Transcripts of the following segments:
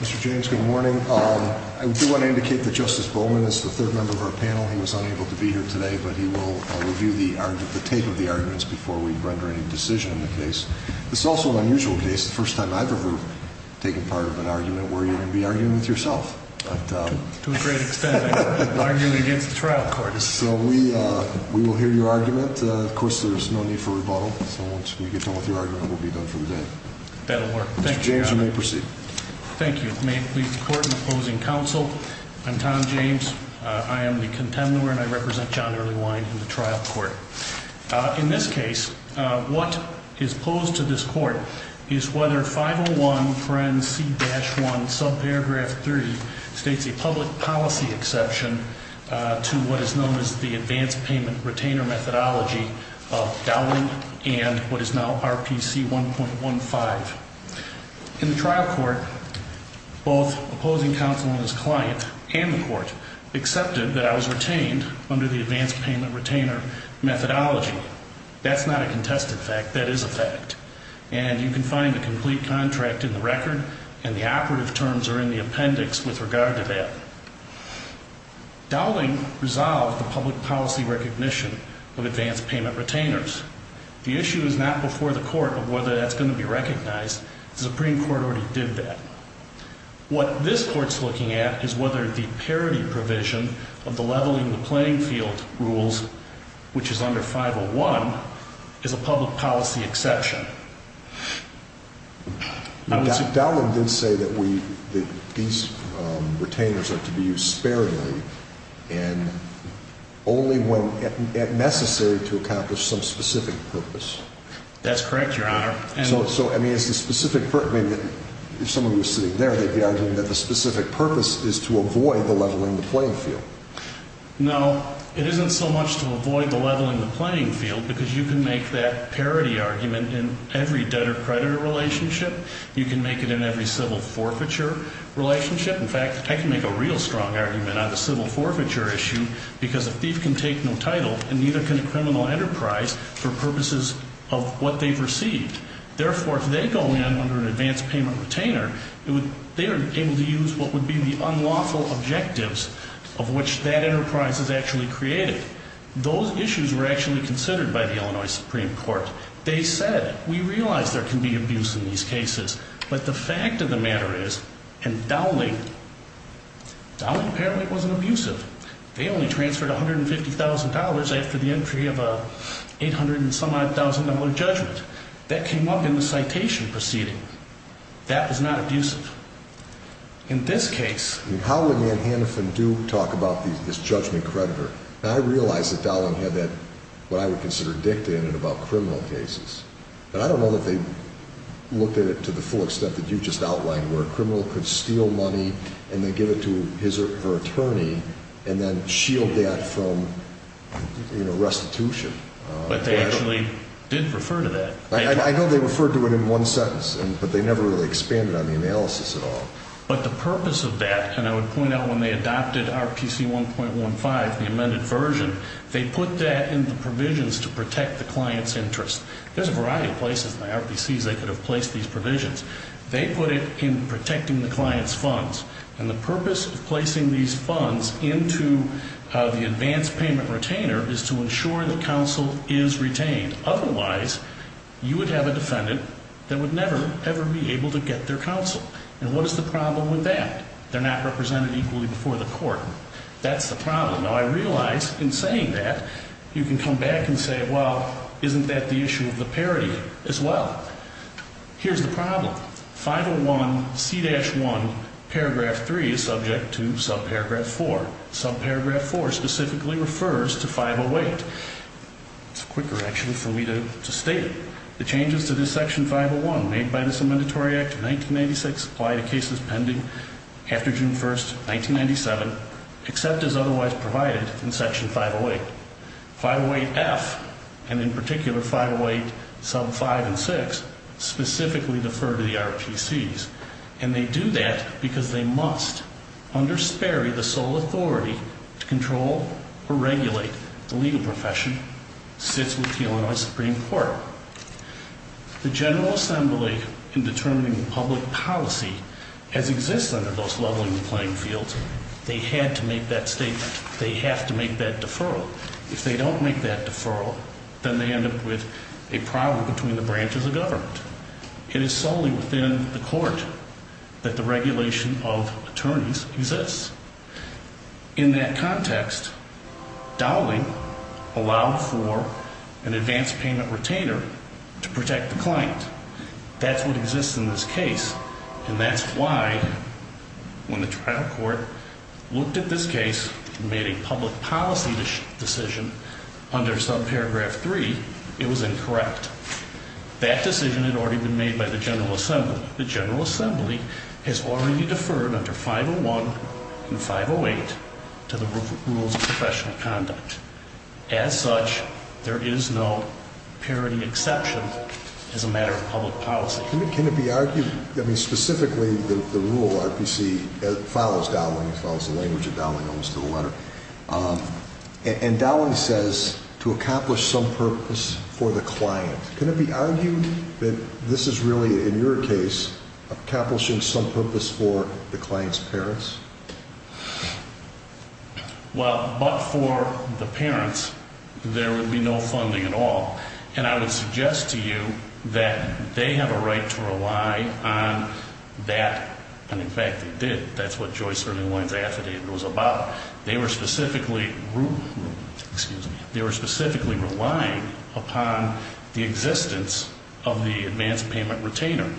Mr. James, good morning. I do want to indicate that Justice Bowman is the third member of our panel. He was unable to be here today, but he will review the tape of the arguments before we render any decision in the case. This is also an unusual case. It's the first time I've ever taken part of an argument where you're going to be arguing with yourself. But... To a great extent, I'm arguing against the trial court. So we will hear your argument. Of course, there's no need for rebuttal. So once we get done with your argument, we'll be done for the day. That'll work. Thank you, Your Honor. Mr. James, you may proceed. Thank you. May it please the Court and the opposing counsel, I'm Tom James. I am the contender, and I represent John Earlywine in the trial court. In this case, what is proposed to this Court is whether 501 paren c-1 subparagraph 3 states a public policy exception to what is known as the advanced payment retainer methodology of Dowling and what is now RPC 1.15. In the trial court, both opposing counsel and his client and the court accepted that I was retained under the advanced payment retainer methodology. That's not a contested fact. That is a fact. And you can find a complete contract in the record and the operative terms are in the appendix with regard to that. Dowling resolved the public policy recognition of advanced payment retainers. The issue is not before the Court of whether that's going to be recognized. The Supreme Court already did that. What this Court's looking at is whether the parity provision of the leveling the playing field rules, which is under 501, is a public policy exception. But Dowling did say that these retainers are to be used sparingly and only when necessary to accomplish some specific purpose. That's correct, Your Honor. So, I mean, it's the specific purpose. If someone was sitting there, they'd be arguing that the specific purpose is to avoid the leveling the playing field. No, it isn't so much to avoid the leveling the playing field because you can make that parity argument in every debtor-creditor relationship. You can make it in every civil forfeiture relationship. In fact, I can make a real strong argument on the civil forfeiture issue because a thief can take no title and neither can a criminal enterprise for purposes of what they've received. Therefore, if they go in under an advance payment retainer, they are able to use what would be the unlawful objectives of which that enterprise is actually created. Those issues were actually considered by the Illinois Supreme Court. They said, we realize there can be abuse in these cases, but the fact of the matter is and Dowling, Dowling apparently wasn't abusive. They only transferred $150,000 after the entry of a $800-and-some-odd-thousand-dollar judgment that came up in the citation proceeding. That was not abusive. In this case... How would Manhattan do talk about this judgment creditor? I realize that Dowling had that, what I would consider dictated about criminal cases. But I don't know that they looked at it to the full extent that you just outlined where a criminal could steal money and then give it to his or her attorney and then shield that from restitution. But they actually did refer to that. I know they referred to it in one sentence, but they never really expanded on the analysis at all. But the purpose of that, and I would point out when they adopted RPC 1.15, the amended version, they put that in the provisions to protect the client's interest. There's a variety of places in the RPCs they could have placed these provisions. They put it in protecting the client's funds. And the purpose of placing these funds into the advance payment retainer is to ensure that counsel is retained. Otherwise, you would have a defendant that would never ever be able to get their counsel. And what is the problem with that? They're not represented equally before the court. That's the problem. Now, I realize in saying that, you can come back and say, well, isn't that the issue of the parity as well? Here's the problem. 501C-1 paragraph 3 is subject to subparagraph 4. Subparagraph 4 specifically refers to 508. It's quicker, actually, for me to state it. The changes to this Section 501 made by this Amendatory Act of 1986 apply to cases pending after June 1, 1997, except as otherwise provided in Section 508. 508F, and in particular 508 sub 5 and 6, specifically defer to the RPCs. And they do that because they must, under Sperry, the sole authority to control or regulate the legal profession, sits with the Illinois Supreme Court. The General Assembly in determining public policy has existed under those leveling playing fields. They had to make that statement. They have to make that deferral. If they don't make that deferral, then they end up with a problem between the branches of government. It is solely within the court that the regulation of attorneys exists. In that context, dowling allowed for an advance payment retainer to protect the client. That's what exists in this case. And that's why, when the trial court looked at this case and made a public policy decision under subparagraph 3, it was incorrect. That decision had already been made by the General Assembly. The General Assembly has already deferred under 501 and 508 to the rules of professional conduct. As such, there is no parity exception as a matter of public policy. Can it be argued, specifically the rule RPC follows dowling, follows the language of dowling and dowling says to accomplish some purpose for the client. Can it be argued that this is really, in your case, accomplishing some purpose for the client's parents? Well, but for the parents, there would be no funding at all. And I would suggest to you that they have a right to rely on that, and in fact they did. That's what Joyce Erlingwein's affidavit was about. They were specifically relying upon the existence of the advance payment retainer.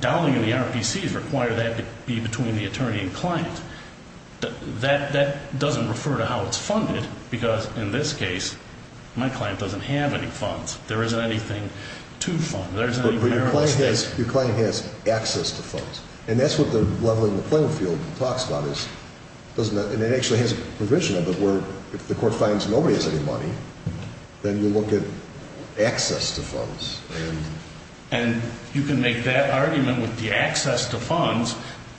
Dowling and the RPCs require that to be between the attorney and client. That doesn't refer to how it's funded, because in this case, my client doesn't have any funds. There isn't anything to fund. Your client has access to funds. And that's what the leveling the playing field talks about. And it actually has a provision of it where if the court finds nobody has any money, then you look at access to funds. And you can make that argument with the access to funds.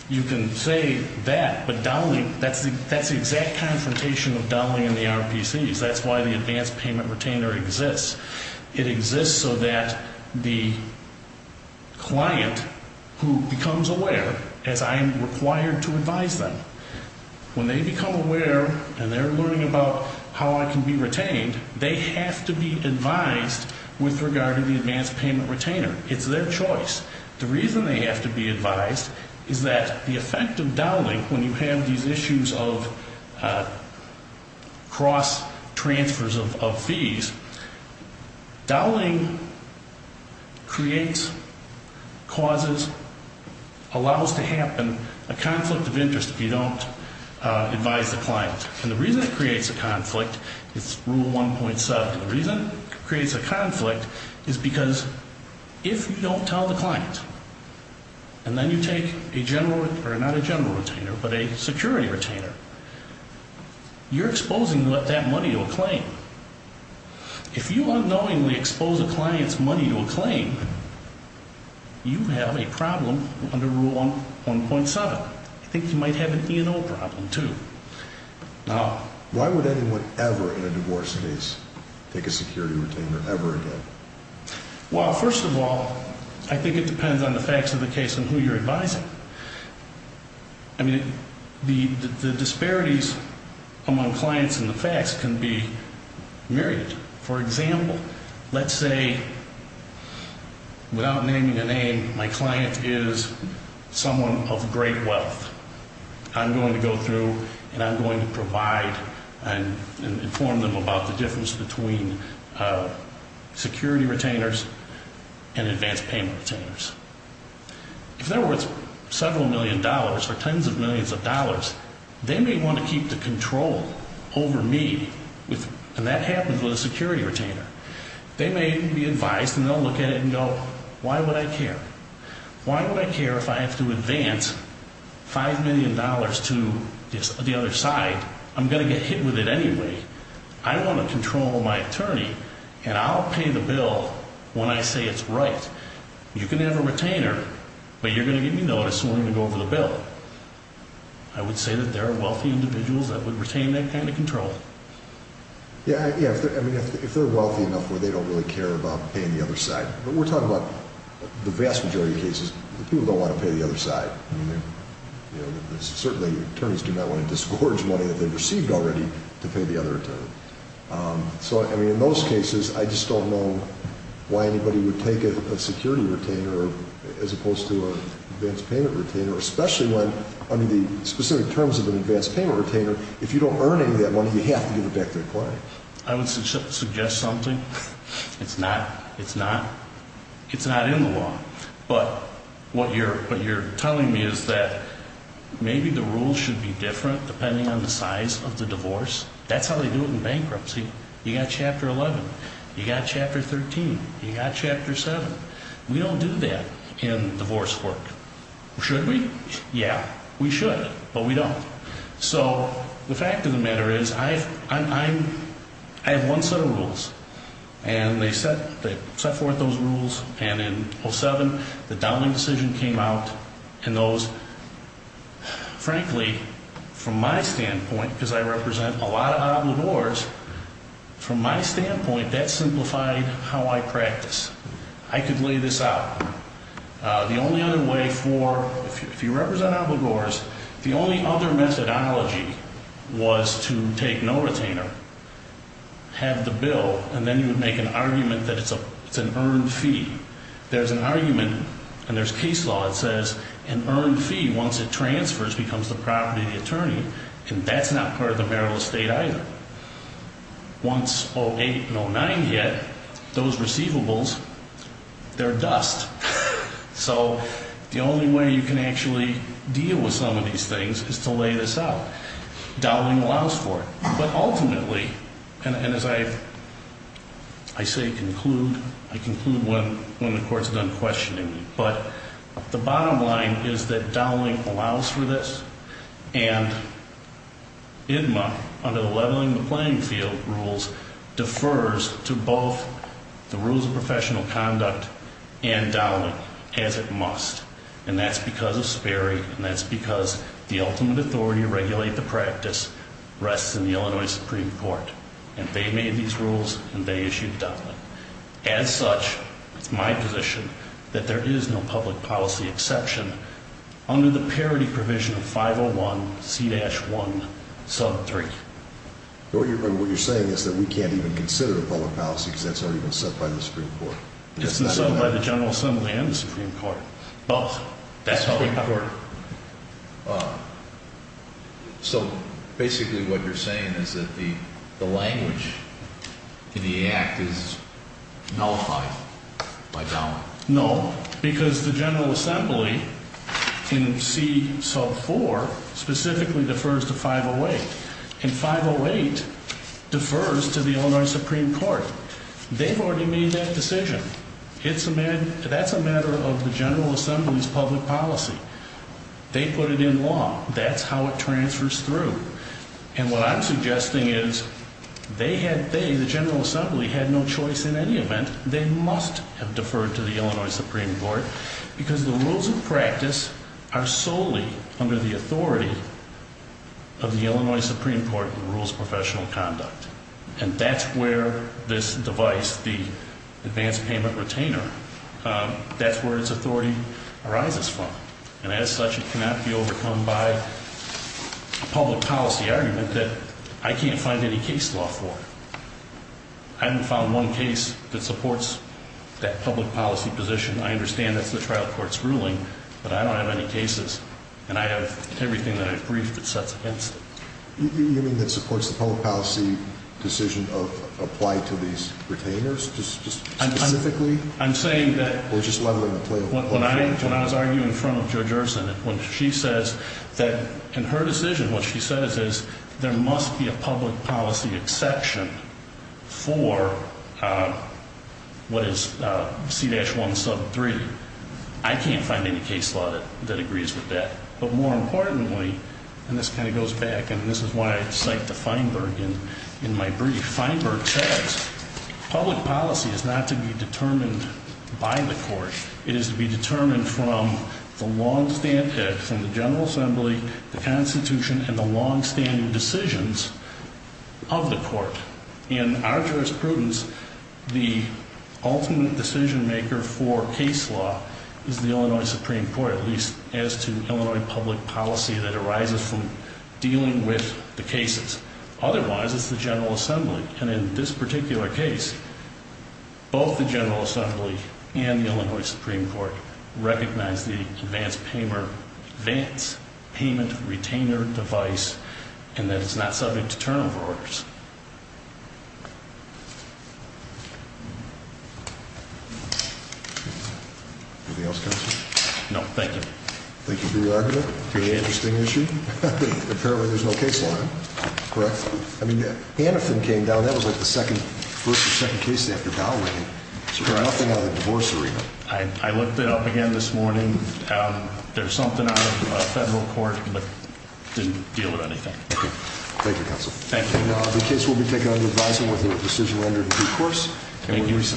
You can say that, but dowling, that's the exact confrontation of dowling and the RPCs. That's why the advance payment retainer exists. It exists so that the client who becomes aware, as I am required to advise them, when they become aware and they're learning about how I can be retained, they have to be advised with regard to the advance payment retainer. It's their choice. The reason they have to be advised is that the effect of dowling, when you have these issues of cross-transfers of fees, dowling creates, causes, allows to happen a conflict of interest if you don't advise the client. And the reason it creates a conflict is Rule 1.7. The reason it creates a conflict is because if you don't tell the client, and then you take a general, or not a general retainer, but a security retainer, you're exposing that money to a claim. If you unknowingly expose a client's money to a claim, you have a problem under Rule 1.7. I think you might have an E&O problem, too. Now, why would anyone ever in a divorce case take a security retainer ever again? Well, first of all, I think it depends on the facts of the case and who you're advising. I mean, the disparities among clients and the facts can be myriad. For example, let's say, without naming a name, my client is someone of great wealth. I'm going to go through and I'm going to provide and inform them about the difference between security retainers and advanced payment retainers. If they're worth several million dollars or tens of millions of dollars, they may want to keep the control over me. And that happens with a security retainer. They may be advised and they'll look at it and go, why would I care? Why would I care if I have to advance $5 million to the other side? I'm going to get hit with it anyway. I want to control my attorney and I'll pay the bill when I say it's right. You can have a retainer, but you're going to give me notice and we're going to go over the bill. I would say that there are wealthy individuals that would retain that kind of control. Yeah, if they're wealthy enough where they don't really care about paying the other side. But we're talking about the vast majority of cases where people don't want to pay the other side. Certainly, attorneys do not want to disgorge money that they've received already to pay the other attorney. In those cases, I just don't know why anybody would take a security retainer as opposed to an advanced payment retainer, especially when, under the specific terms of an advanced payment retainer, if you don't earn any of that money, you have to give it back to the client. I would suggest something. It's not in the law. But what you're telling me is that maybe the rules should be different depending on the size of the divorce. That's how they do it in bankruptcy. You've got Chapter 11, you've got Chapter 13, you've got Chapter 7. We don't do that in divorce work. Should we? Yeah, we should, but we don't. So the fact of the matter is, I have one set of rules. And they set forth those rules, and in 07, the Dowling decision came out, and those, frankly, from my standpoint, because I represent a lot of obligors, from my standpoint, that simplified how I practice. I could lay this out. The only other way for, if you represent obligors, the only other methodology was to take no retainer, have the bill, and then you would make an argument that it's an earned fee. There's an argument, and there's case law that says, an earned fee, once it transfers, becomes the property of the attorney, and that's not part of the marital estate either. Once 08 and 09 hit, those receivables, they're dust. So the only way you can actually deal with some of these things is to lay this out. Dowling allows for it, but ultimately, and as I say conclude, I conclude when the court's done questioning me, but the bottom line is that Dowling allows for this, and IDMA, under the leveling the playing field rules, defers to both the rules of professional conduct and Dowling, as it must. And that's because of Sperry, and that's because the ultimate authority to regulate the practice rests in the Illinois Supreme Court, and they made these rules, and they issued Dowling. As such, it's my position that there is no public policy exception under the parity provision of 501C-1, sub 3. But what you're saying is that we can't even consider public policy because that's already been set by the Supreme Court. It's been set by the General Assembly and the Supreme Court. Both. That's public court. So basically what you're saying is that the language in the Act is nullified by Dowling. No, because the General Assembly in C, sub 4, specifically defers to 508. And 508 defers to the Illinois Supreme Court. They've already made that decision. That's a matter of the General Assembly's public policy. They put it in law. That's how it transfers through. And what I'm suggesting is they, the General Assembly, had no choice in any event. They must have deferred to the Illinois Supreme Court because the rules of practice are solely under the authority of the Illinois Supreme Court in rules of professional conduct. And that's where this device, the advance payment retainer, that's where its authority arises from. And as such, it cannot be overcome by a public policy argument that I can't find any case law for. I haven't found one case that supports that public policy position. I understand that's the trial court's ruling, but I don't have any cases. And I have everything that I've briefed that sets against it. You mean that supports the public policy decision of applying to these retainers? Just specifically? I'm saying that... Or just leveling the playing field? When I was arguing in front of Judge Erson, when she says that, in her decision, what she says is there must be a public policy exception for what is C-1 sub 3, I can't find any case law that agrees with that. But more importantly, and this kind of goes back, and this is why I cite the Feinberg in my brief, Feinberg says public policy is not to be determined by the court. It is to be determined from the long-standing, from the General Assembly, the Constitution, and the long-standing decisions of the court. In our jurisprudence, the ultimate decision maker for case law is the Illinois Supreme Court, at least as to Illinois public policy that arises from dealing with the cases. Otherwise, it's the General Assembly. And in this particular case, both the General Assembly and the Illinois Supreme Court recognize the advance payment retainer device and that it's not subject to turnover orders. Anything else, Counselor? No, thank you. Thank you for your argument. Very interesting issue. Apparently there's no case law. Correct? Hanifin came down. That was like the first or second case after Dowling. There's nothing on the divorce agreement. I looked it up again this morning. There's something out of federal court, but it didn't deal with anything. Thank you, Counselor. Thank you. The case will be taken under advisement with the decision rendered in due course. Thank you.